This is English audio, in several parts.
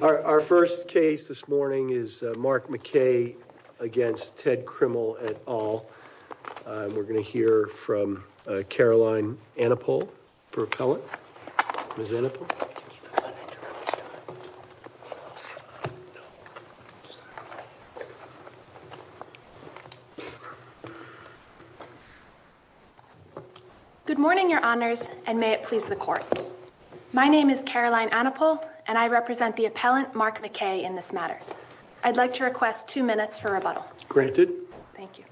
Our first case this morning is Mark McKay against Ted Krimmel et al. We're going to hear from Caroline Annapol for appellant. Good morning, your honors, and may it please the court. My name is Caroline Annapol, and I represent the appellant Mark McKay in this matter. I'd like to request two minutes for rebuttal. Granted. Thank you.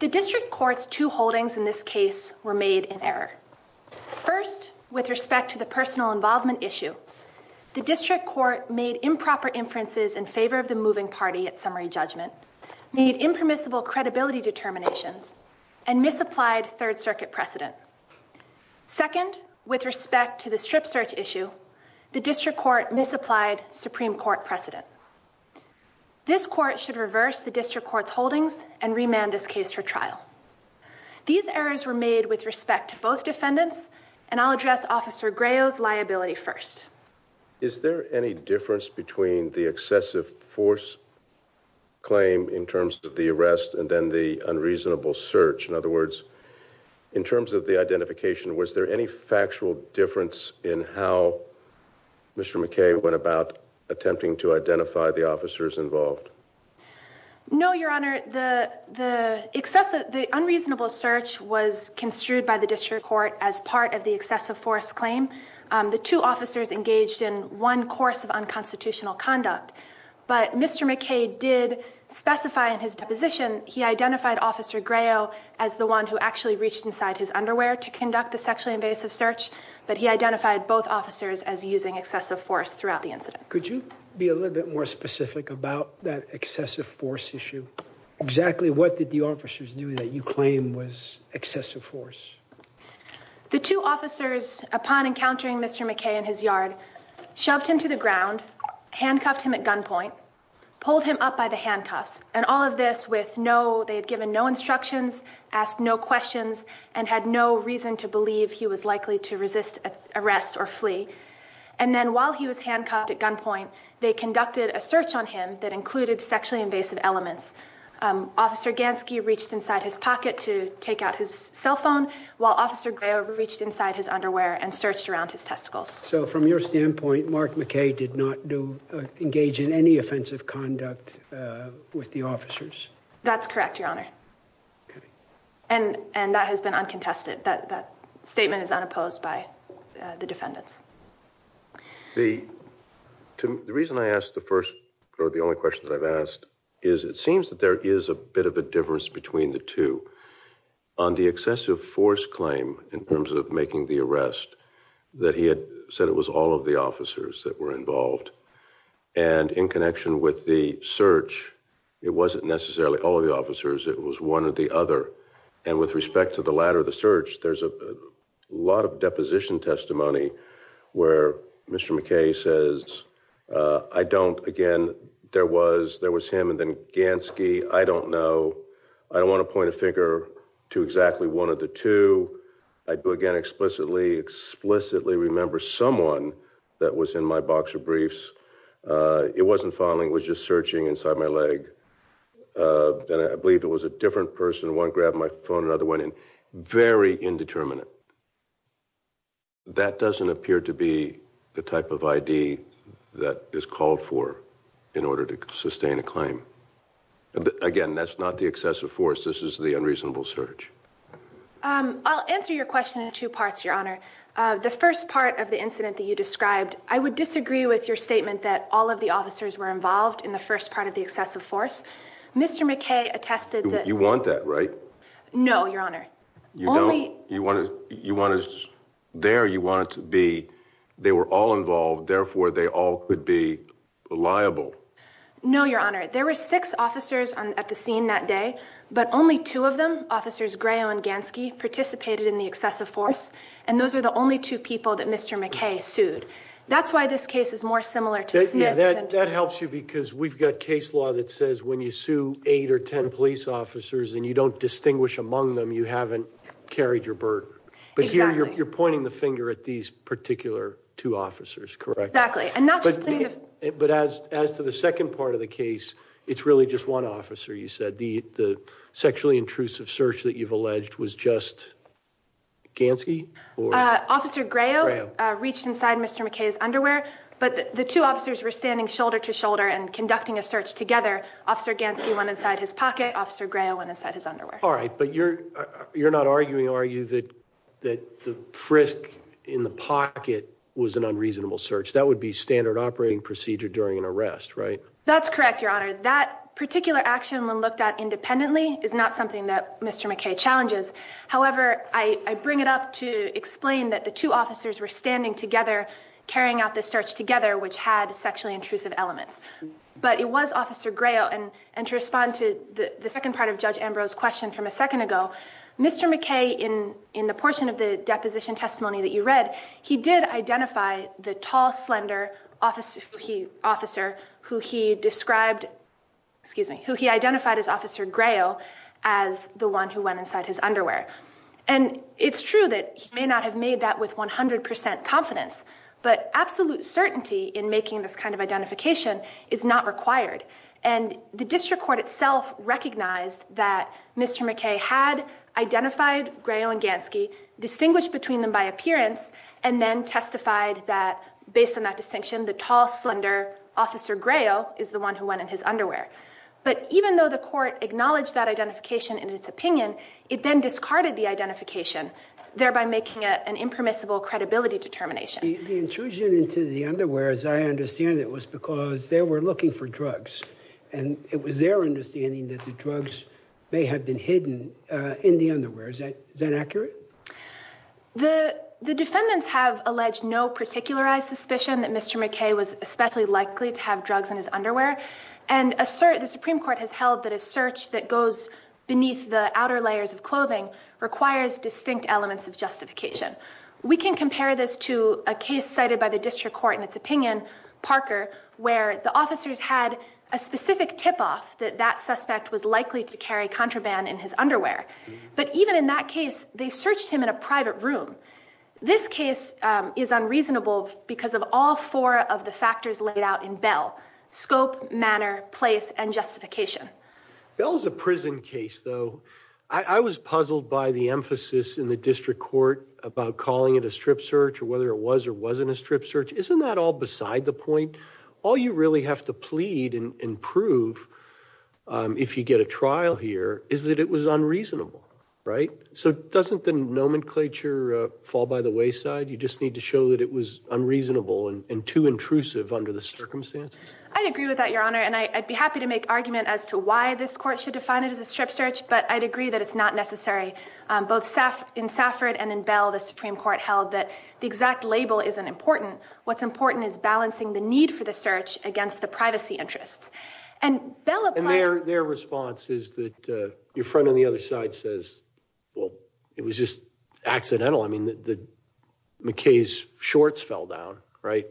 The district court's two holdings in this case were made in error. First, with respect to the personal involvement issue, the district court made improper inferences in favor of the moving party at summary judgment, made impermissible credibility determinations, and misapplied third circuit precedent. Second, with respect to the strip search issue, the district court misapplied Supreme Court precedent. This court should reverse the district court's holdings and remand this case for trial. These errors were made with respect to both defendants, and I'll address officer Graeo's liability first. Is there any difference between the excessive force claim in terms of the arrest and then the unreasonable search? In other words, in terms of the identification, was there any factual difference in how Mr. McKay went about attempting to identify the officers involved? No, your honor. The unreasonable search was construed by the district court as part of the excessive force claim. The two officers engaged in one course of unconstitutional conduct, but Mr. McKay did actually reach inside his underwear to conduct the sexually invasive search, but he identified both officers as using excessive force throughout the incident. Could you be a little bit more specific about that excessive force issue? Exactly what did the officers do that you claim was excessive force? The two officers, upon encountering Mr. McKay in his yard, shoved him to the ground, handcuffed him at gunpoint, pulled him up by the handcuffs, and all of this with no, they had given no instructions, asked no questions, and had no reason to believe he was likely to resist arrest or flee. And then while he was handcuffed at gunpoint, they conducted a search on him that included sexually invasive elements. Officer Gansky reached inside his pocket to take out his cell phone, while officer Graeo reached inside his underwear and searched around his testicles. So from your standpoint, Mark McKay did not do, engage in any offensive conduct with the officers? That's correct, your honor. And that has been uncontested. That statement is unopposed by the defendants. The reason I asked the first, or the only question that I've asked, is it seems that there is a bit of a difference between the two. On the excessive force claim, in terms of making the arrest, that he had said it was all of the officers that were involved. And in connection with the search, it wasn't necessarily all of the officers, it was one or the other. And with respect to the latter of the search, there's a lot of deposition testimony where Mr. McKay says, I don't, again, there was him and then Gansky, I don't know. I don't want to point a finger to exactly one of the two. I do, again, explicitly, explicitly remember someone that was in my box of briefs. It wasn't following, it was just searching inside my leg. And I believe it was a different person, one grabbed my phone, another went in. Very indeterminate. That doesn't appear to be the type of ID that is called for in order to sustain a claim. Again, that's not the excessive force, this is the unreasonable search. I'll answer your question in two parts, Your Honor. The first part of the incident that you described, I would disagree with your statement that all of the officers were involved in the first part of the excessive force. Mr. McKay attested that- You want that, right? No, Your Honor. You don't. You want to, there you want it to be, they were all involved, therefore they all could be liable. No, Your Honor. There were six officers at the scene that day, but only two of them, Officers Grayo and Gansky, participated in the excessive force. And those are the only two people that Mr. McKay sued. That's why this case is more similar to Smith than- That helps you because we've got case law that says when you sue eight or ten police officers and you don't distinguish among them, you haven't carried your burden. Exactly. But here, you're pointing the finger at these particular two officers, correct? Exactly. And not just pointing the- But as to the second part of the case, it's really just one officer, you said. The sexually intrusive search that you've alleged was just Gansky or- Officer Grayo reached inside Mr. McKay's underwear, but the two officers were standing shoulder to shoulder and conducting a search together. Officer Gansky went inside his pocket, Officer Grayo went inside his underwear. All right. But you're not arguing, are you, that the frisk in the pocket was an unreasonable search? That would be standard operating procedure during an arrest, right? That's correct, Your Honor. That particular action when looked at independently is not something that Mr. McKay challenges. However, I bring it up to explain that the two officers were standing together, carrying out the search together, which had sexually intrusive elements. But it was Officer Grayo. And to respond to the second part of Judge Ambrose's question from a second ago, Mr. McKay, in the portion of the deposition testimony that you read, he did identify the tall, slender officer who he described- excuse me- who he identified as Officer Grayo as the one who went inside his underwear. And it's true that he may not have that with 100% confidence, but absolute certainty in making this kind of identification is not required. And the district court itself recognized that Mr. McKay had identified Grayo and Gansky, distinguished between them by appearance, and then testified that, based on that distinction, the tall, slender Officer Grayo is the one who went in his underwear. But even though the court acknowledged that identification in its opinion, it then discarded the identification, thereby making it an impermissible credibility determination. The intrusion into the underwear, as I understand it, was because they were looking for drugs. And it was their understanding that the drugs may have been hidden in the underwear. Is that accurate? The defendants have alleged no particularized suspicion that Mr. McKay was especially likely to have drugs in his underwear. And the Supreme Court has held that a search that goes beneath the outer layers of clothing requires distinct elements of justification. We can compare this to a case cited by the district court in its opinion, Parker, where the officers had a specific tip-off that that suspect was likely to carry contraband in his underwear. But even in that case, they searched him in a private room. This case is unreasonable because of all four of the factors laid out in Bell, scope, manner, place, and justification. Bell is a prison case though. I was puzzled by the emphasis in the district court about calling it a strip search or whether it was or wasn't a strip search. Isn't that all beside the point? All you really have to plead and prove if you get a trial here is that it was unreasonable, right? So doesn't the nomenclature fall by the wayside? You just need to show that it was unreasonable and too intrusive under the circumstances. I'd agree with that, Your Honor. And I'd be happy to make argument as to why this court should define it as a strip search, but I'd agree that it's not necessary. Both in Safford and in Bell, the Supreme Court held that the exact label isn't important. What's important is balancing the need for the search against the privacy interests. And Bell applied- And their response is that your friend on the other side says, well, it was just accidental. I mean, the McKay's shorts fell down, right?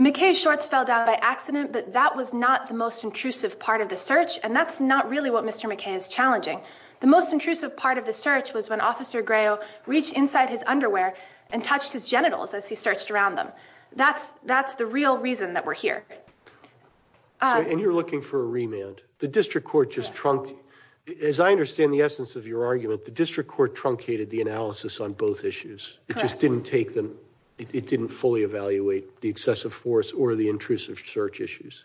McKay's shorts fell down by accident, but that was not the most intrusive part of the search. And that's not really what Mr. McKay is challenging. The most intrusive part of the search was when Officer Greyo reached inside his underwear and touched his genitals as he searched around them. That's the real reason that we're here. And you're looking for a remand. The district court just trunked- As I understand the essence of your argument, the district court truncated the analysis on both issues. It just didn't take them, it didn't fully evaluate the excessive force or the intrusive search issues.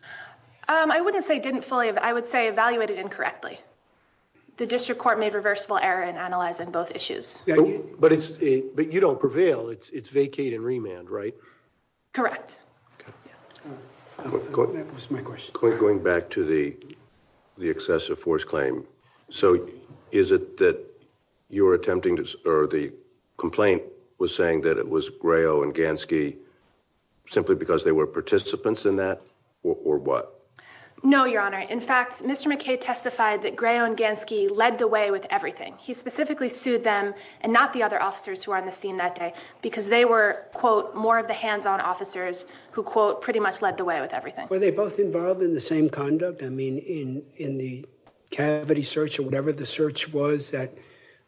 I wouldn't say didn't fully, I would say evaluated incorrectly. The district court made reversible error in analyzing both issues. But it's, but you don't prevail. It's vacate and remand, right? Correct. That was my question. Going back to the excessive force claim, so is it that you were attempting to, or the complaint was saying that it was Greyo and Gansky simply because they were participants in that or what? No, your honor. In fact, Mr. McKay testified that Greyo and Gansky led the way with everything. He specifically sued them and not the other officers who are on the scene that day because they were quote, more of the hands-on officers who quote, pretty much led the way with everything. Were they both involved in the same conduct?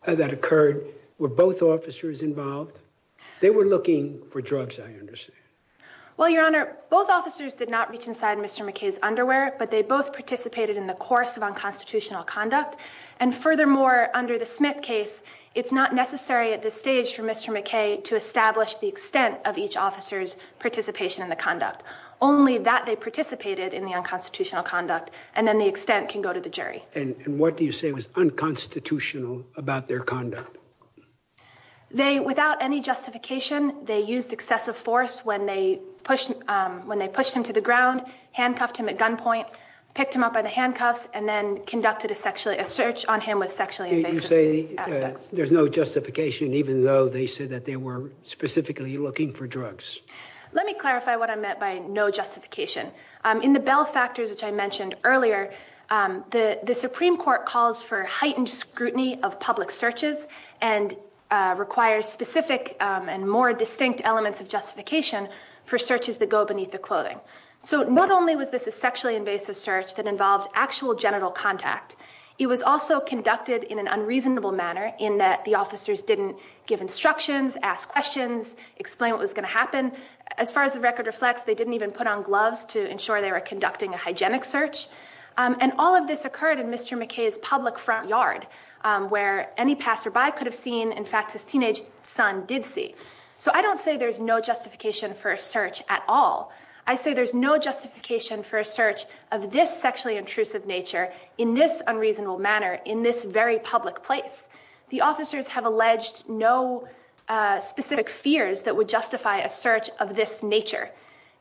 I that occurred, were both officers involved? They were looking for drugs, I understand. Well, your honor, both officers did not reach inside Mr. McKay's underwear, but they both participated in the course of unconstitutional conduct. And furthermore, under the Smith case, it's not necessary at this stage for Mr. McKay to establish the extent of each officer's participation in the conduct. Only that they participated in the unconstitutional conduct and then the extent can go to the jury. And what do you say was unconstitutional about their conduct? They, without any justification, they used excessive force when they pushed him to the ground, handcuffed him at gunpoint, picked him up by the handcuffs, and then conducted a sexually, a search on him with sexually invasive aspects. You say there's no justification, even though they said that they were specifically looking for drugs. Let me clarify what I meant by no justification. In the bell factors, which I mentioned earlier, the Supreme Court calls for heightened scrutiny of public searches and requires specific and more distinct elements of justification for searches that go beneath the clothing. So not only was this a sexually invasive search that involved actual genital contact, it was also conducted in an unreasonable manner in that the officers didn't give instructions, ask questions, explain what was going to happen. As far as the record reflects, they didn't even put on gloves to ensure they were conducting a hygienic search. And all of this occurred in Mr. McKay's public front yard, where any passerby could have seen, in fact, his teenage son did see. So I don't say there's no justification for a search at all. I say there's no justification for a search of this sexually intrusive nature in this unreasonable manner in this very public place. The officers have alleged no specific fears that would justify a search of this nature.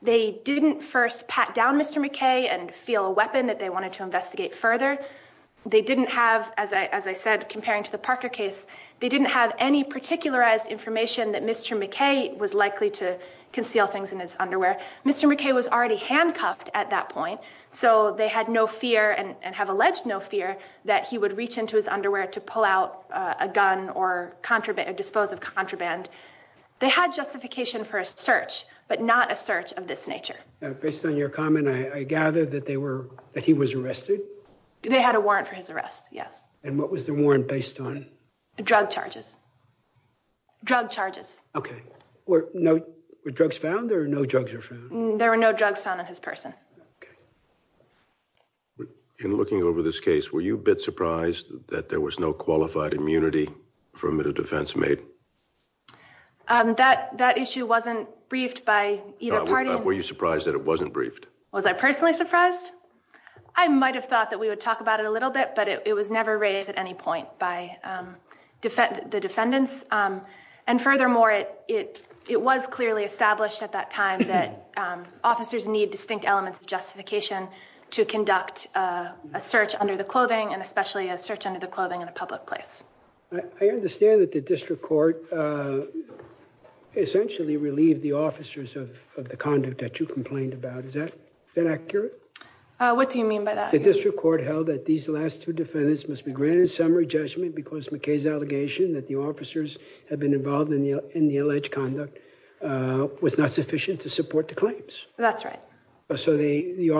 They didn't first pat down Mr. McKay and feel a weapon that they wanted to investigate further. They didn't have, as I said, comparing to the Parker case, they didn't have any particularized information that Mr. McKay was likely to conceal things in his underwear. Mr. McKay was already handcuffed at that point, so they had no fear and have alleged no fear that he would reach into his underwear to pull out a gun or dispose of contraband. They had justification for a search, but not a search of this nature. Based on your comment, I gather that he was arrested? They had a warrant for his arrest, yes. And what was the warrant based on? Drug charges. Drug charges. Okay. Were drugs found or no drugs were found? There were no drugs found on his person. Okay. But in looking over this case, were you a bit surprised that there was no qualified immunity from the defense made? That issue wasn't briefed by either party. Were you surprised that it wasn't briefed? Was I personally surprised? I might have thought that we would talk about it a little bit, but it was never raised at any point by the defendants. And furthermore, it was clearly established at that time that to conduct a search under the clothing and especially a search under the clothing in a public place. I understand that the district court essentially relieved the officers of the conduct that you complained about. Is that accurate? What do you mean by that? The district court held that these last two defendants must be granted summary judgment because McKay's allegation that the officers had been involved in the alleged conduct was not sufficient to support the claims. That's right. So the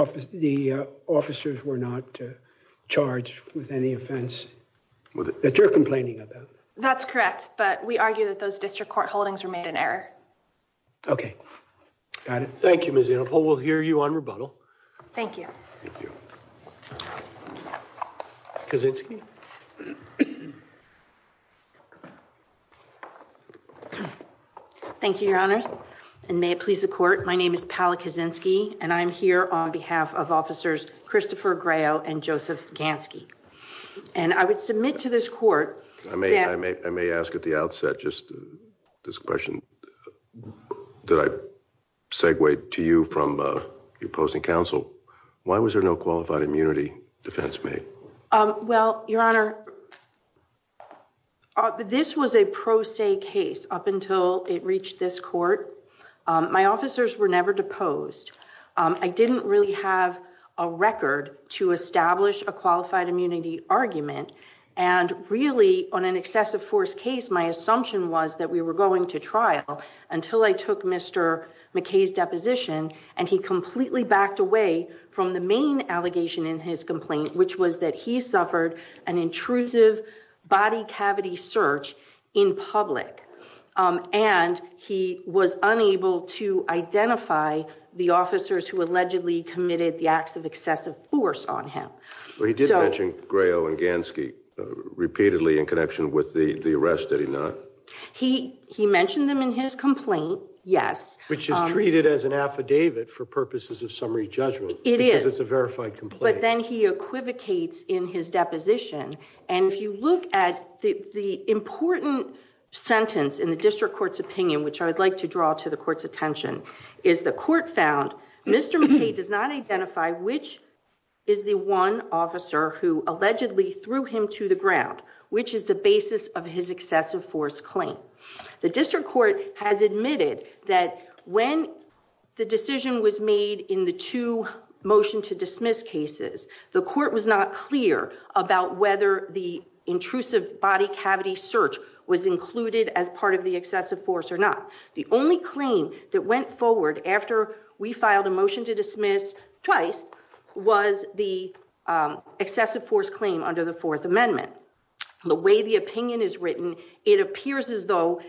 officers were not charged with any offense that you're complaining about? That's correct, but we argue that those district court holdings were made in error. Okay. Got it. Thank you, Ms. Annapol. We'll hear you on rebuttal. Thank you. Thank you. Ms. Kaczynski. Thank you, Your Honor. And may it please the court, my name is Pala Kaczynski, and I'm here on behalf of officers Christopher Graeo and Joseph Gansky. And I would submit to this court... I may ask at the outset just this question that I segway to you from opposing counsel. Why was there no qualified immunity defense made? Well, Your Honor, this was a pro se case up until it reached this court. My officers were never deposed. I didn't really have a record to establish a qualified immunity argument. And really, on an excessive force case, my assumption was that we were going to trial until I took Mr. McKay's deposition, and he completely backed away from the main allegation in his complaint, which was that he suffered an intrusive body cavity search in public. And he was unable to identify the officers who allegedly committed the acts of excessive force on him. Well, he did mention Graeo and Gansky repeatedly in connection with the arrest, did he not? He mentioned them in his complaint, yes. Which is treated as an affidavit for purposes of summary judgment. It is. Because it's a verified complaint. But then he equivocates in his deposition. And if you look at the important sentence in the district court's opinion, which I would like to draw to the court's attention, is the court found, Mr. McKay does not identify which is the one officer who allegedly threw him to the ground, which is the basis of his excessive force claim. The district court has admitted that when the decision was made in the two motion to dismiss cases, the court was not clear about whether the intrusive body cavity search was included as part of the excessive force or not. The only claim that went forward after we filed a motion to dismiss twice was the excessive force claim under the Fourth Amendment. The way the opinion is written, it appears as though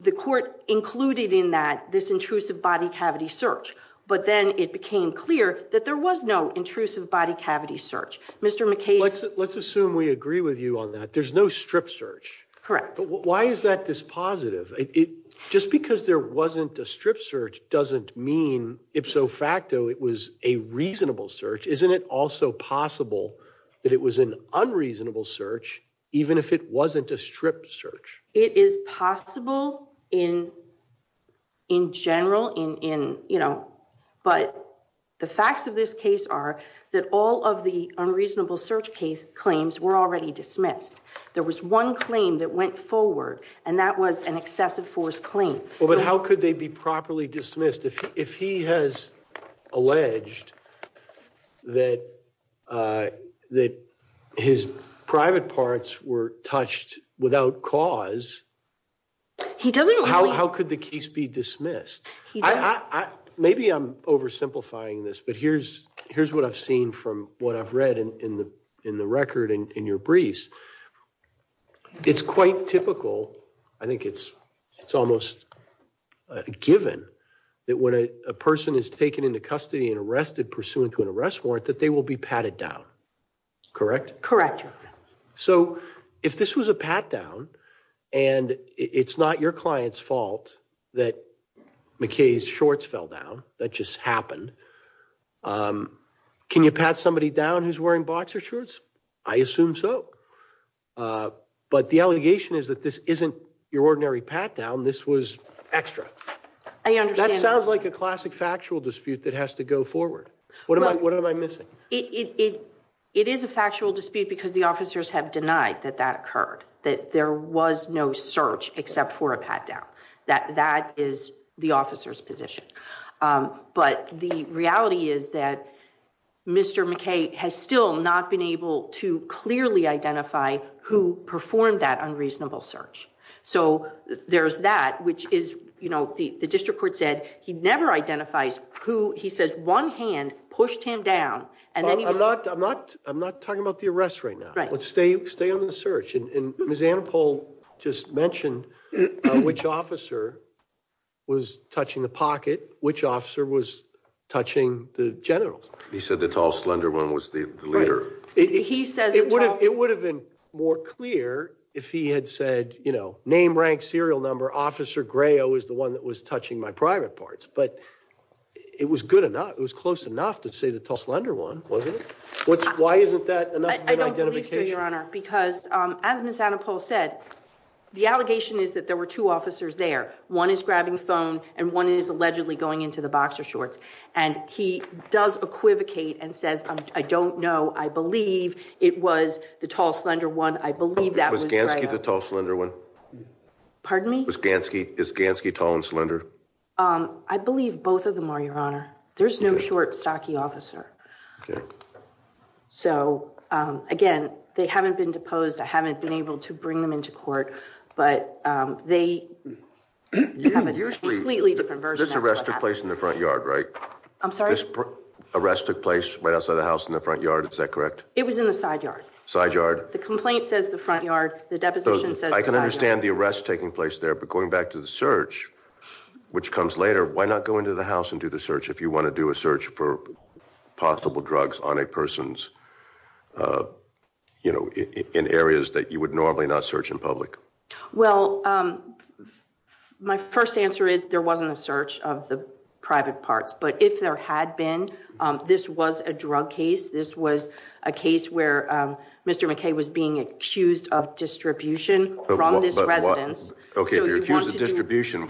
the court included in that this intrusive body cavity search. But then it became clear that there was no intrusive body cavity search. Mr. McKay. Let's assume we agree with you on that. There's no strip search. Correct. Why is that dispositive? Just because there wasn't a strip search doesn't mean ipso facto it was a reasonable search. Isn't it also possible that it was an unreasonable search, even if it wasn't a strip search? It is possible in general. But the facts of this case are that all of the unreasonable search case were already dismissed. There was one claim that went forward and that was an excessive force claim. But how could they be properly dismissed? If he has alleged that his private parts were touched without cause, how could the case be dismissed? Maybe I'm oversimplifying this, but here's what I've seen from what I've read in the record and in your briefs. It's quite typical, I think it's almost given, that when a person is taken into custody and arrested pursuant to an arrest warrant, that they will be patted down. Correct? Correct. So if this was a pat down and it's not your client's fault that McKay's shorts fell down, that just happened, can you pat somebody down who's wearing boxer shorts? I assume so. But the allegation is that this isn't your ordinary pat down, this was extra. I understand. That sounds like a classic factual dispute that has to go forward. What am I missing? It is a factual dispute because the officers have denied that that occurred, that there was no search except for a pat down. That is the officer's position. But the reality is that Mr. McKay has still not been able to clearly identify who performed that unreasonable search. So there's that, which is, you know, the district court said he never identifies who, he says one hand pushed him down. And I'm not, I'm not, I'm not talking about the arrest right now. Let's stay, stay on the search. And Ms. Annapol just mentioned which officer was touching the pocket, which officer was touching the genitals. He said the tall slender one was the leader. It would have been more clear if he had said, you know, name, rank, serial number, officer Greo is the one that was touching my private parts. But it was good enough, it was close enough to say the tall slender one, wasn't it? Why isn't that enough of an identification? I don't believe so, your honor, because as Ms. Annapol said, the allegation is that there were officers there. One is grabbing phone and one is allegedly going into the boxer shorts. And he does equivocate and says, I don't know. I believe it was the tall slender one. I believe that was Gansky, the tall slender one. Pardon me? Was Gansky, is Gansky tall and slender? I believe both of them are, your honor. There's no short stocky officer. So again, they haven't been deposed. I haven't been able to bring them into court, but they have a completely different version. This arrest took place in the front yard, right? I'm sorry? This arrest took place right outside the house in the front yard, is that correct? It was in the side yard. Side yard? The complaint says the front yard, the deposition says the side yard. I can understand the arrest taking place there, but going back to the search, which comes later, why not go into the house and do the search if you want to do a search for possible drugs on a person's, you know, in areas that you would normally not search in public? Well, my first answer is there wasn't a search of the private parts, but if there had been, this was a drug case. This was a case where Mr. McKay was being accused of distribution from this residence. Okay, if you're accused of distribution,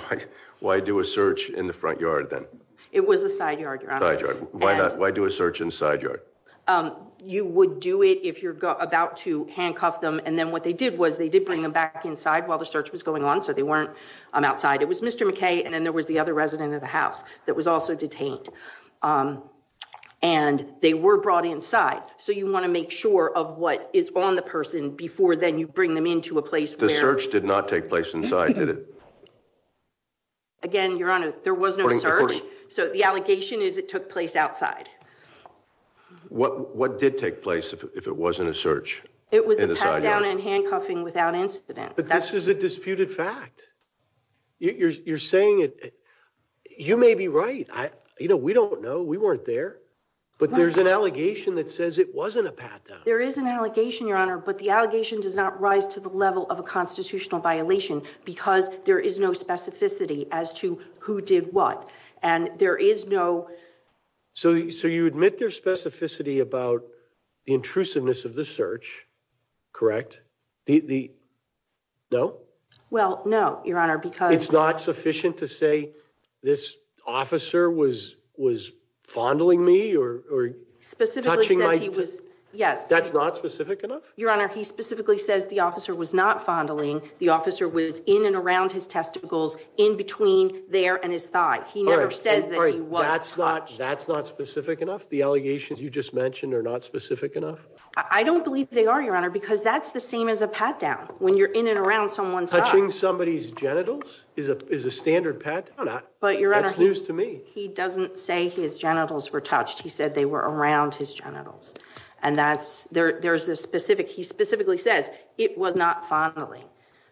why do a search in the front yard then? It was the side yard, your honor. Side yard. Why not? Why do a search in the side yard? You would do it if you're about to handcuff them, and then what they did was they did bring them back inside while the search was going on, so they weren't outside. It was Mr. McKay, and then there was the other resident of the house that was also detained, and they were brought inside, so you want to make sure of what is on the person before then you bring them into a place where... The search did not take place inside, did it? Again, your honor, there was no search, so the allegation is it took place outside. What did take place if it wasn't a search? It was a pat down and handcuffing without incident. But this is a disputed fact. You're saying it. You may be right. You know, we don't know. We weren't there. But there's an allegation that says it wasn't a pat down. There is an allegation, your honor, but the allegation does not rise to the level of a constitutional violation because there is no specificity as to who did what, and there is no... So you admit there's specificity about the intrusiveness of the search, correct? No? Well, no, your honor, because... It's not sufficient to say this officer was fondling me or touching my... Specifically said he was... Yes. That's not specific enough? Your honor, he specifically says the officer was not fondling. The officer was in and around his testicles in between there and his thigh. He never says that he was touched. That's not specific enough? The allegations you just mentioned are not specific enough? I don't believe they are, your honor, because that's the same as a pat down. When you're in and around someone's... Touching somebody's genitals is a standard pat down. That's news to me. But your honor, he doesn't say his genitals were touched. He said they were around his genitals. And that's... There's a specific... He specifically says it was not fondling.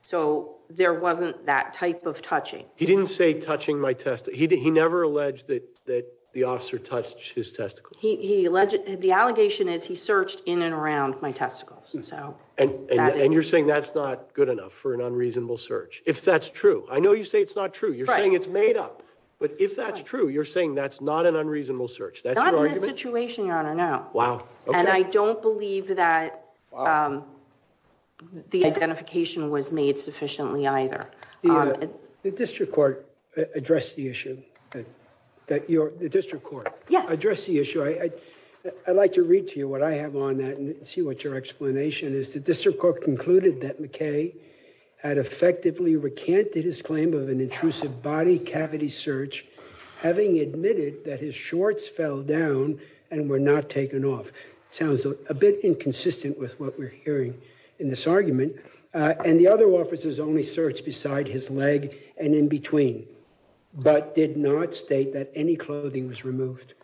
So there wasn't that type of touching. He didn't say touching my testicles. He never alleged that the officer touched his testicles. He alleged... The allegation is he searched in and around my testicles, so... And you're saying that's not good enough for an unreasonable search, if that's true. I know you say it's not true. You're saying it's made up. But if that's true, you're saying that's not an unreasonable search. Not in this situation, your honor, no. Wow. Okay. And I don't believe that the identification was made sufficiently either. The district court addressed the issue. That your... The district court addressed the issue. I'd like to read to you what I have on that and see what your explanation is. The district court concluded that McKay had effectively recanted his claim of an intrusive body cavity search, having admitted that his shorts fell down and were not taken off. It sounds a bit inconsistent with what we're hearing in this argument. And the other officers only searched beside his leg and in between, but did not state that any clothing was removed.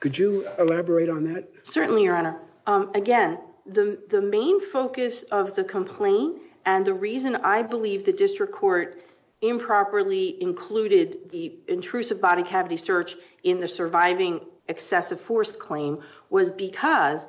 Could you elaborate on that? Certainly, your honor. Again, the main focus of the complaint and the reason I believe the district court improperly included the intrusive body cavity search in the surviving excessive force claim was because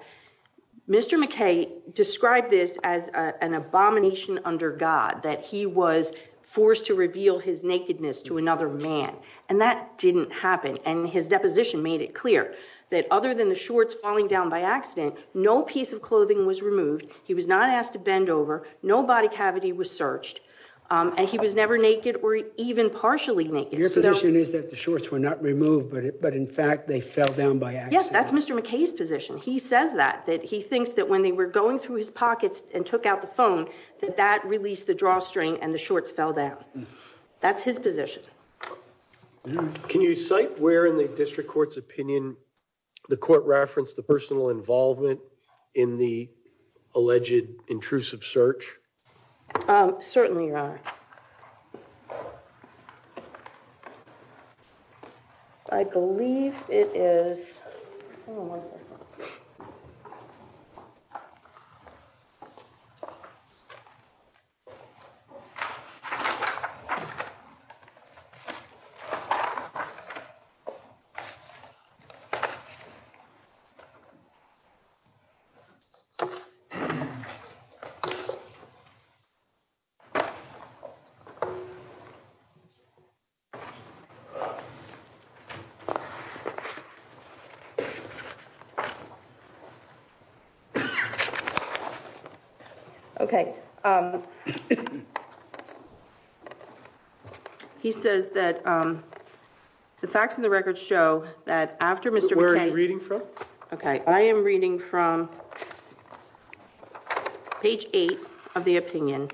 Mr. McKay described this as an abomination under God, that he was forced to reveal his nakedness to another man. And that didn't happen. And his deposition made it clear that other than the shorts falling down by accident, no piece of clothing was removed. He was not asked to bend over. No body cavity was searched. And he was never naked or even partially naked. Your position is that the shorts were not removed, but in fact, they fell down by accident. Yes, that's Mr. McKay's position. He says that, that he thinks that when they were going through his pockets and took out the phone, that that released the drawstring and the shorts fell down. That's his position. Can you cite where in the district court's opinion the court referenced the personal Certainly, your honor. I believe it is. Okay. He says that the facts and the records show that after Mr. Where are you reading from? Okay, I am reading from page eight of the opinion.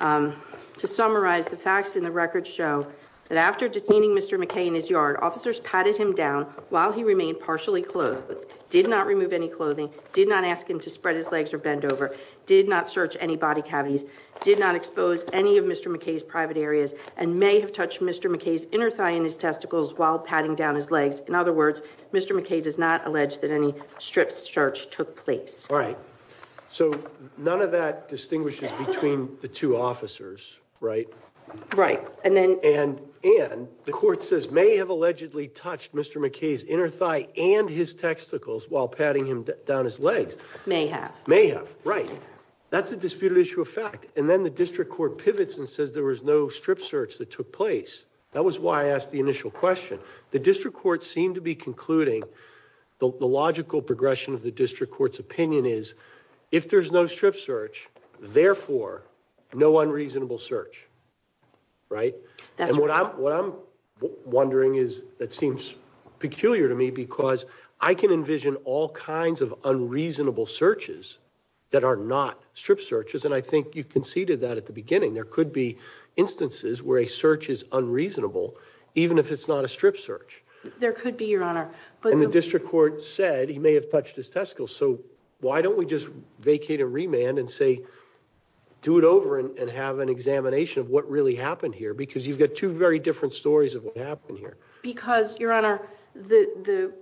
To summarize, the facts and the records show that after detaining Mr. McKay in his yard, officers patted him down while he remained partially clothed, did not remove any clothing, did not ask him to spread his legs or bend over, did not search any body cavities, did not expose any of Mr. McKay's private areas, and may have touched Mr. McKay's inner thigh and his testicles while patting down his legs. In other words, Mr. McKay does not allege that any strip search took place. All right. So none of that distinguishes between the two officers. Right. Right. And then and and the court says may have allegedly touched Mr. McKay's inner thigh and his testicles while patting him down his legs. May have. May have. Right. That's a disputed issue of fact. And then the district court pivots and says there was no strip search that took place. That was why I asked the initial question. The district court seemed to be concluding the logical progression of the district court's opinion is if there's no strip search, therefore, no unreasonable search. Right. And what I'm what I'm wondering is that seems peculiar to me because I can envision all kinds of unreasonable searches that are not strip searches. And I think you conceded that at the beginning. There could be instances where a search is unreasonable, even if it's not a strip search. There could be, Your Honor. The district court said he may have touched his testicle. So why don't we just vacate a remand and say do it over and have an examination of what really happened here? Because you've got two very different stories of what happened here. Because, Your Honor, the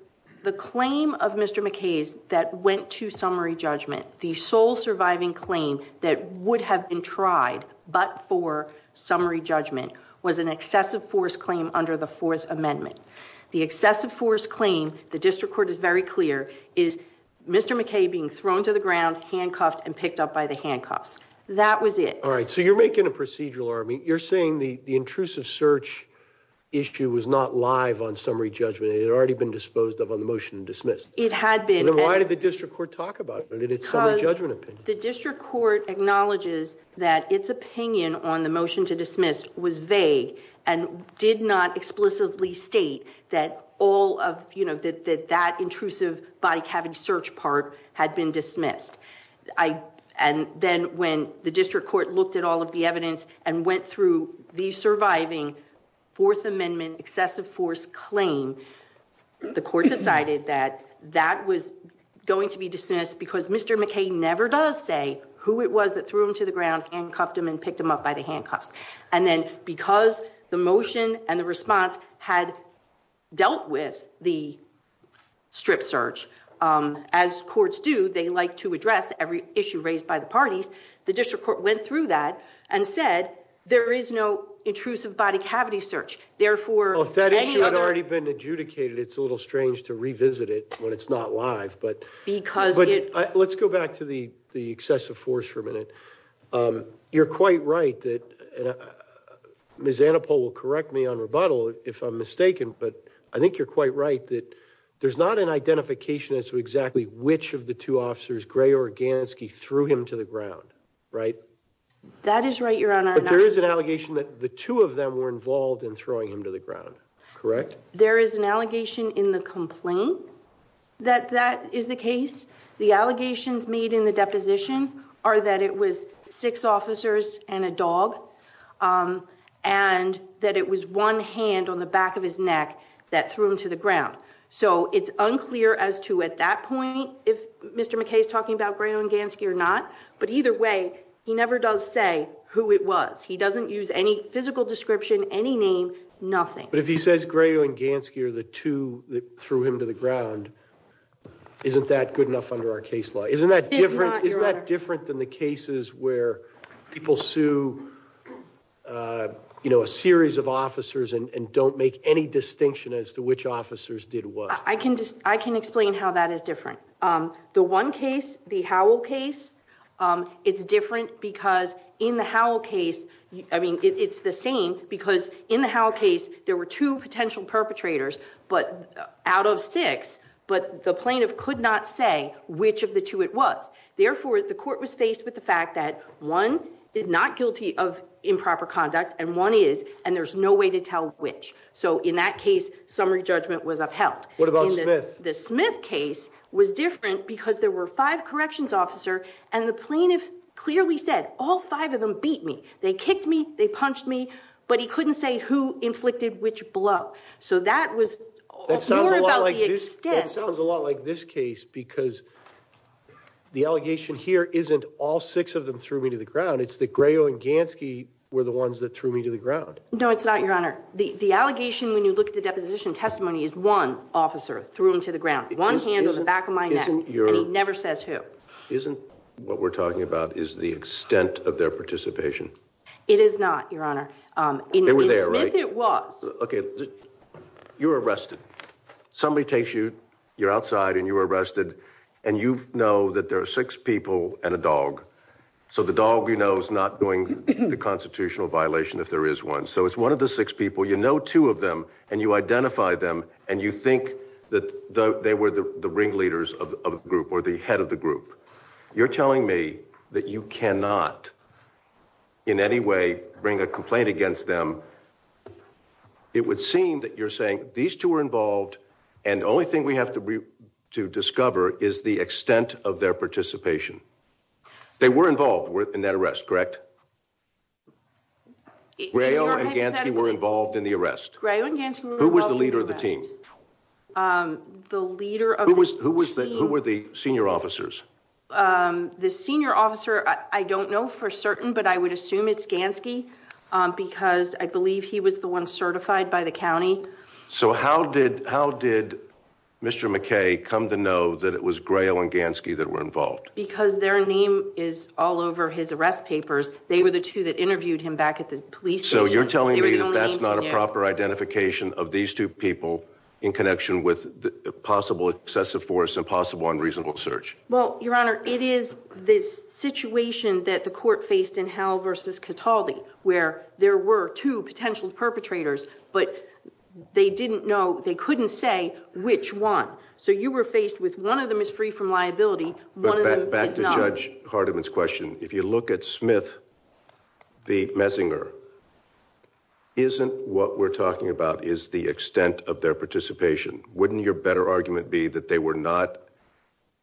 the claim of Mr. McKay's that went to summary judgment, the sole surviving claim that would have been tried but for summary judgment was an excessive force claim under the Fourth Amendment. The excessive force claim, the district court is very clear, is Mr. McKay being thrown to the ground, handcuffed and picked up by the handcuffs. That was it. All right. So you're making a procedural argument. You're saying the the intrusive search issue was not live on summary judgment. It had already been disposed of on the motion to dismiss. It had been. Why did the district court talk about it? The district court acknowledges that its opinion on the motion to dismiss was vague and did not explicitly state that all of, you know, that that intrusive body cavity search part had been dismissed. And then when the district court looked at all of the evidence and went through the surviving Fourth Amendment excessive force claim, the court decided that that was going to be dismissed because Mr. McKay never does say who it was that threw him to the ground, handcuffed him and picked him up by the handcuffs. And then because the motion and the response had dealt with the strip search, as courts do, they like to address every issue raised by the parties. The district court went through that and said there is no intrusive body cavity search. Therefore, if that issue had already been adjudicated, it's a little strange to revisit it when it's not live. But because let's go back to the excessive force for a minute. You're quite right that Ms. Anapol will correct me on rebuttal if I'm mistaken, but I think you're quite right that there's not an identification as to exactly which of the two officers, Gray or Gansky, threw him to the ground, right? That is right, Your Honor. But there is an allegation that the two of them were involved in throwing him to the ground, correct? There is an allegation in the complaint that that is the case. The allegations made in the deposition are that it was six officers and a dog and that it was one hand on the back of his neck that threw him to the ground. So it's unclear as to at that point if Mr. McKay is talking about Gray or Gansky or not. But either way, he never does say who it was. He doesn't use any physical description, any name, nothing. But if he says Gray or Gansky are the two that threw him to the ground, isn't that good enough under our case law? Isn't that different? Isn't that different than the cases where people sue a series of officers and don't make any distinction as to which officers did what? I can explain how that is different. The one case, the Howell case, it's different because in the Howell case, I mean, it's the same because in the Howell case, there were two potential perpetrators out of six, but the plaintiff could not say which of the two it was. Therefore, the court was faced with the fact that one is not guilty of improper conduct and one is, and there's no way to tell which. So in that case, summary judgment was upheld. What about Smith? The Smith case was different because there were five corrections officers and the plaintiff clearly said, all five of them beat me. They kicked me, they punched me, but he couldn't say who inflicted which blow. So that was more about the extent. That sounds a lot like this case because the allegation here isn't all six of them threw me to the ground. It's that Gray or Gansky were the ones that threw me to the ground. No, it's not, Your Honor. The allegation when you look at the deposition testimony is one officer threw him to the ground, one hand on the back of my neck, and he never says who. Isn't what we're talking about is the extent of their participation? It is not, Your Honor. They were there, right? In Smith, it was. Okay, you were arrested. Somebody takes you, you're outside and you were arrested and you know that there are six people and a dog. So the dog you know is not doing the constitutional violation if there is one. So it's one of the six people. You know two of them and you identify them and you think that they were the ringleaders of the group or the head of the group. You're telling me that you cannot in any way bring a complaint against them. It would seem that you're saying these two were involved and the only thing we have to discover is the extent of their participation. They were involved in that arrest, correct? Gray or Gansky were involved in the arrest. Gray or Gansky were involved in the arrest. Who was the leader of the team? The leader of the team. Who were the senior officers? The senior officer, I don't know for certain, but I would assume it's Gansky because I believe he was the one certified by the county. So how did Mr. McKay come to know that it was Gray or Gansky that were involved? Because their name is all over his arrest papers. They were the two that interviewed him back at the police station. So you're telling me that that's not a proper identification of these two people in connection with the possible excessive force and possible unreasonable search? Well, Your Honor, it is this situation that the court faced in Howell versus Cataldi where there were two potential perpetrators, but they didn't know, they couldn't say which one. So you were faced with one of them is free from liability, one of them is not. Back to Judge Hardiman's question. If you look at Smith v. Messinger, isn't what we're talking about is the extent of their participation? Wouldn't your better argument be that they were not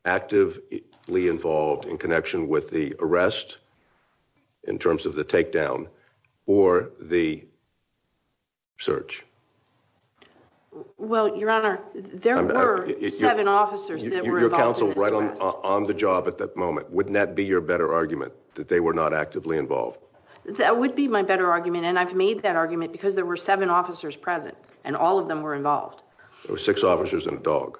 actively involved in connection with the arrest in terms of the takedown or the search? Well, Your Honor, there were seven officers that were involved in this arrest. Your counsel was right on the job at that moment. Wouldn't that be your better argument, that they were not actively involved? That would be my better argument, and I've made that argument because there were seven officers present, and all of them were involved. There were six officers and a dog.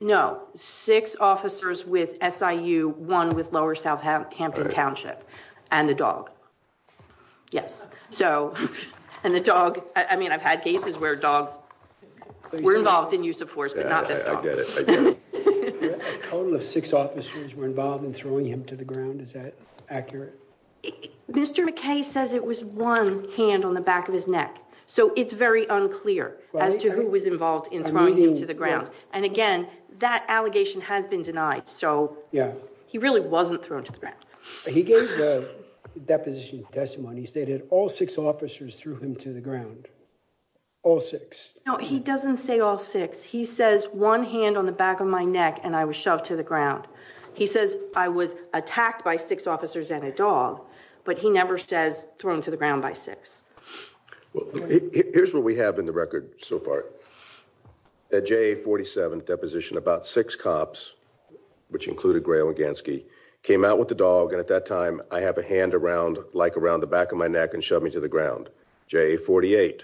No, six officers with SIU, one with Lower Southampton Township, and the dog. Yes, so, and the dog, I mean, I've had cases where dogs were involved in use of force, but not this dog. I get it, I get it. A total of six officers were involved in throwing him to the ground, is that accurate? Mr. McKay says it was one hand on the back of his neck, so it's very unclear as to who was involved in throwing him to the ground. And again, that allegation has been denied, so he really wasn't thrown to the ground. He gave the deposition testimony, he stated all six officers threw him to the ground. All six. No, he doesn't say all six. He says one hand on the back of my neck and I was shoved to the ground. He says I was attacked by six officers and a dog, but he never says thrown to the ground by six. Well, here's what we have in the record so far. At JA-47 deposition, about six cops, which included Gray-Langansky, came out with the dog, and at that time, I have a hand around, like around the back of my neck, and shoved me to the ground. JA-48,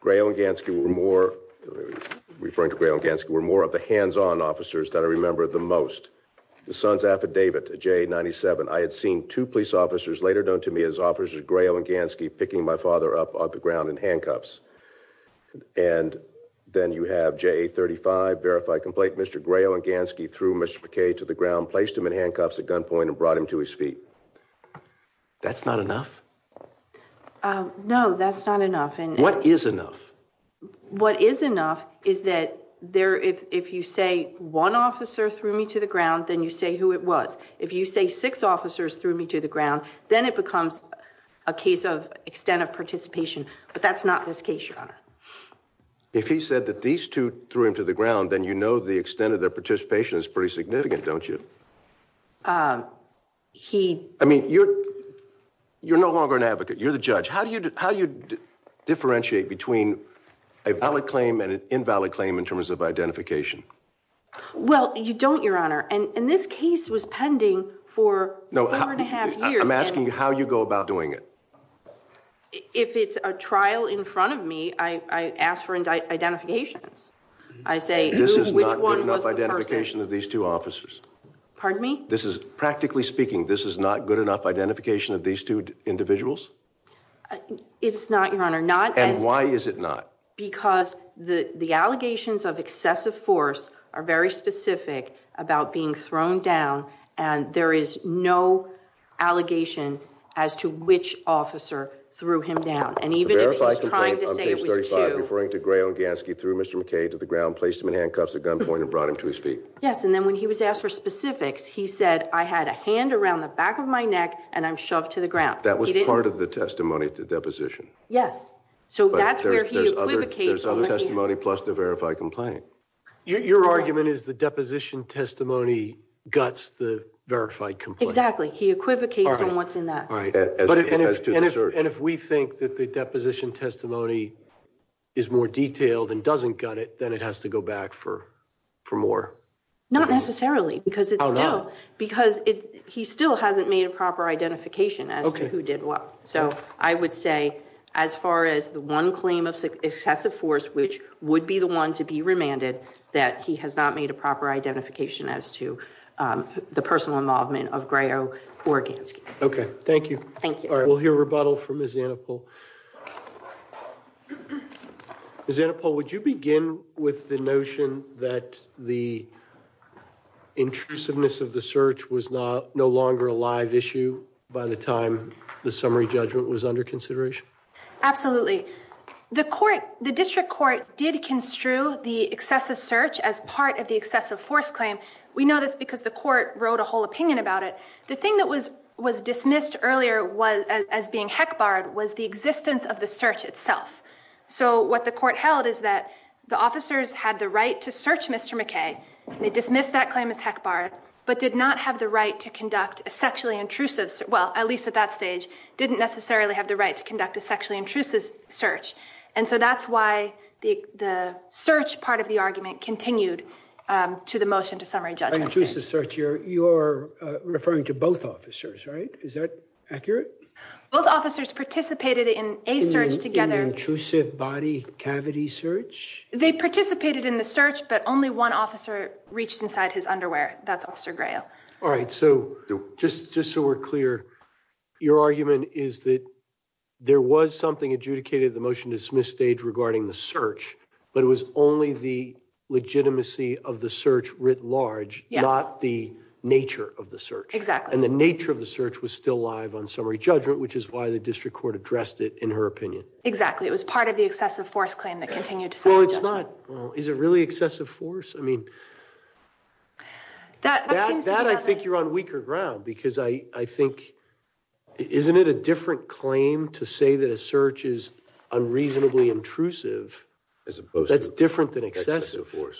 Gray-Langansky were more, referring to Gray-Langansky, were more of the hands-on officers that I remember the most. The son's affidavit, JA-97, I had seen two police officers, later known to me as officers Gray-Langansky, picking my father up off the ground in handcuffs. And then you have JA-35, verified complaint, Mr. Gray-Langansky threw Mr. McKay to the ground, placed him in handcuffs at gunpoint, and brought him to his feet. That's not enough? No, that's not enough. What is enough? What is enough is that if you say one officer threw me to the ground, then you say who it was. If you say six officers threw me to the ground, then it becomes a case of extent of participation. But that's not this case, Your Honor. If he said that these two threw him to the ground, then you know the extent of their participation is pretty significant, don't you? I mean, you're no longer an advocate. You're the judge. How do you differentiate between a valid claim and an invalid claim in terms of identification? Well, you don't, Your Honor. And this case was pending for four and a half years. I'm asking you how you go about doing it. If it's a trial in front of me, I ask for identifications. I say, which one was the person? This is not good enough identification of these two officers. Pardon me? This is, practically speaking, this is not good enough identification of these two individuals. It's not, Your Honor. Not as... And why is it not? Because the allegations of excessive force are very specific about being thrown down. And there is no allegation as to which officer threw him down. And even if he's trying to say it was two... The verified complaint on page 35, referring to Gray Olganski, threw Mr. McKay to the ground, placed him in handcuffs at gunpoint, and brought him to his feet. Yes, and then when he was asked for specifics, he said, I had a hand around the back of my neck and I'm shoved to the ground. That was part of the testimony, the deposition. Yes. So that's where he equivocates... There's other testimony plus the verified complaint. Your argument is the deposition testimony guts the verified complaint. Exactly. He equivocates on what's in that. And if we think that the deposition testimony is more detailed and doesn't gut it, then it has to go back for more. Because he still hasn't made a proper identification as to... So I would say as far as the one claim of excessive force, which would be the one to be remanded, that he has not made a proper identification as to the personal involvement of Gray Olganski. Okay. Thank you. Thank you. We'll hear rebuttal from Ms. Annapol. Ms. Annapol, would you begin with the notion that the summary judgment was under consideration? Absolutely. The district court did construe the excessive search as part of the excessive force claim. We know this because the court wrote a whole opinion about it. The thing that was dismissed earlier as being heck barred was the existence of the search itself. So what the court held is that the officers had the right to search Mr. McKay. They dismissed that claim as heck barred, but did not have the right to conduct a sexually intrusive... Well, at least at that stage, didn't necessarily have the right to conduct a sexually intrusive search. And so that's why the search part of the argument continued to the motion to summary judgment. By intrusive search, you're referring to both officers, right? Is that accurate? Both officers participated in a search together. In an intrusive body cavity search? They participated in the search, but only one officer reached inside his underwear. That's Officer Gray O. All right, so just so we're clear, your argument is that there was something adjudicated at the motion to dismiss stage regarding the search, but it was only the legitimacy of the search writ large, not the nature of the search. Exactly. And the nature of the search was still live on summary judgment, which is why the district court addressed it in her opinion. Exactly. It was part of the excessive force claim that continued to... Well, it's not. Is it really excessive force? I mean, that I think you're on weaker ground, because I think, isn't it a different claim to say that a search is unreasonably intrusive that's different than excessive force?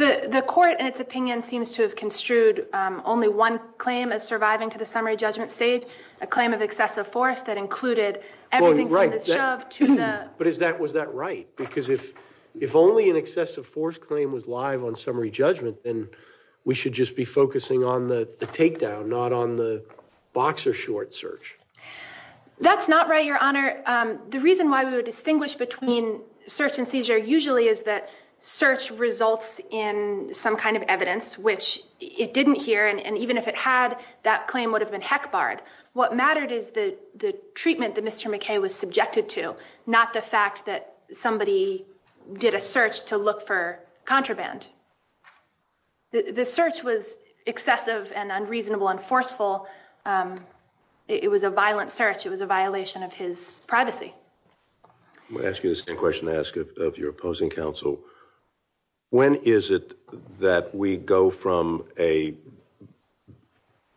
The court, in its opinion, seems to have construed only one claim as surviving to the summary judgment stage, a claim of excessive force that included everything from the shove to the... Was that right? Because if only an excessive force claim was live on summary judgment, then we should just be focusing on the takedown, not on the box or short search. That's not right, your honor. The reason why we would distinguish between search and seizure usually is that search results in some kind of evidence, which it didn't hear, and even if it had, that claim would have been heck barred. What mattered is the treatment that Mr. McKay was subjected to, not the fact that somebody did a search to look for contraband. The search was excessive and unreasonable and forceful. It was a violent search. It was a violation of his privacy. I'm going to ask you the same question I ask of your opposing counsel. When is it that we go from a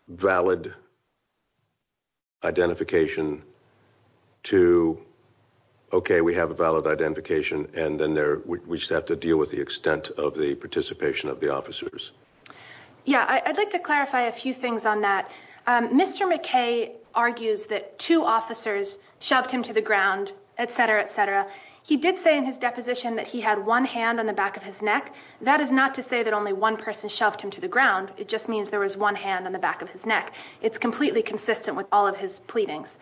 valid identification to, okay, we have a valid identification, and then we just have to deal with the extent of the participation of the officers? Yeah, I'd like to clarify a few things on that. Mr. McKay argues that two officers shoved him to the ground, et cetera, et cetera. He did say in his deposition that he had one hand on the back of his neck. That is not to say that only one person shoved him to the ground. It just means there was one hand on the back of his neck. It's completely consistent with all of his pleadings.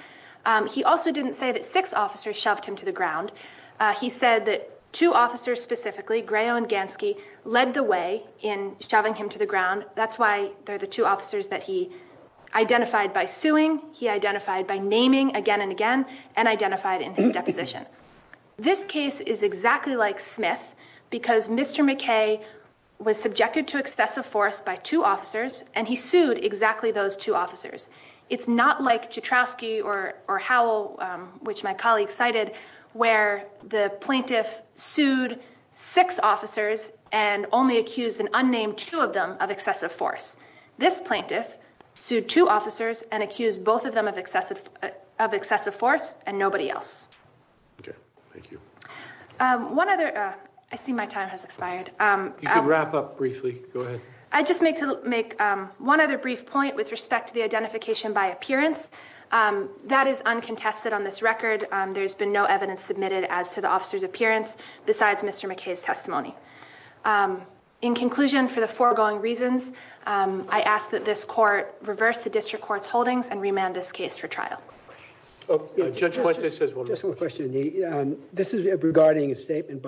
He also didn't say that six officers shoved him to the ground. He said that two officers specifically, Grayo and Gansky, led the way in shoving him to the ground. That's why they're the two officers that he identified by suing, he identified by naming again and again, and identified in his deposition. This case is exactly like Smith because Mr. McKay was subjected to excessive force by two officers, and he sued exactly those two officers. It's not like Jatrowski or Howell, which my colleague cited, where the plaintiff sued six officers and only accused an unnamed two of them of excessive force. This plaintiff sued two officers and accused both of them of excessive force and nobody else. Okay, thank you. One other, I see my time has expired. You can wrap up briefly, go ahead. I just make one other brief point with respect to the identification by appearance. That is uncontested on this record. There's been no evidence submitted as to the officer's appearance besides Mr. McKay's testimony. In conclusion, for the foregoing reasons, I ask that this court reverse the district court's holdings and remand this case for trial. Judge Fuentes has one more question. This is regarding a statement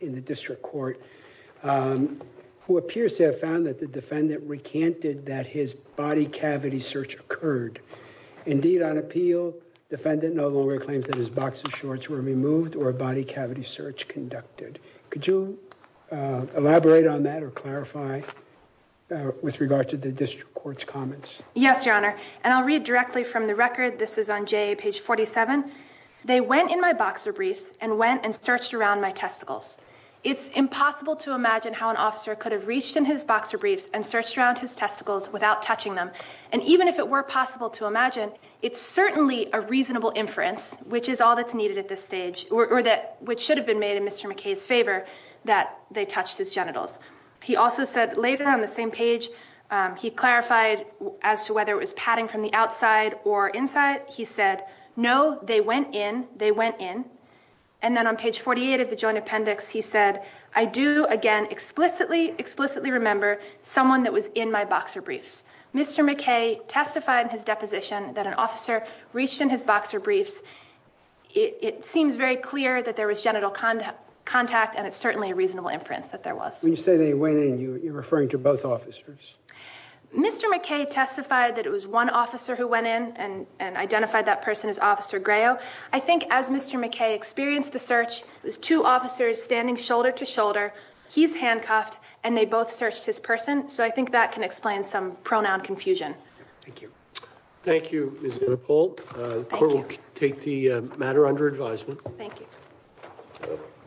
in the district court who appears to have found that the defendant recanted that his body cavity search occurred. Indeed, on appeal, defendant no longer claims that his boxer shorts were removed or a body cavity search conducted. Could you elaborate on that or clarify with regard to the district court's comments? Yes, your honor, and I'll read directly from the record. This is on JA page 47. They went in my boxer briefs and went and searched around my testicles. It's impossible to imagine how an officer could have reached in his boxer briefs and searched around his testicles without touching them. And even if it were possible to imagine, it's certainly a reasonable inference, which is all that's needed at this stage, or that which should have been made in Mr. McKay's favor that they touched his genitals. He also said later on the same page, he clarified as to whether it was padding from the outside or inside. He said, no, they went in, they went in. And then on page 48 of the joint appendix, he said, I do again, explicitly, explicitly remember someone that was in my boxer briefs. Mr. McKay testified in his deposition that an officer reached in his boxer briefs. It seems very clear that there was genital contact, and it's certainly a reasonable inference that there was. When you say they went in, you're referring to both officers? Mr. McKay testified that it was one officer who went in and identified that person as officer I think as Mr. McKay experienced the search, it was two officers standing shoulder to shoulder. He's handcuffed, and they both searched his person. So I think that can explain some pronoun confusion. Thank you. Thank you, Ms. Rappal. The court will take the matter under advisement. Thank you.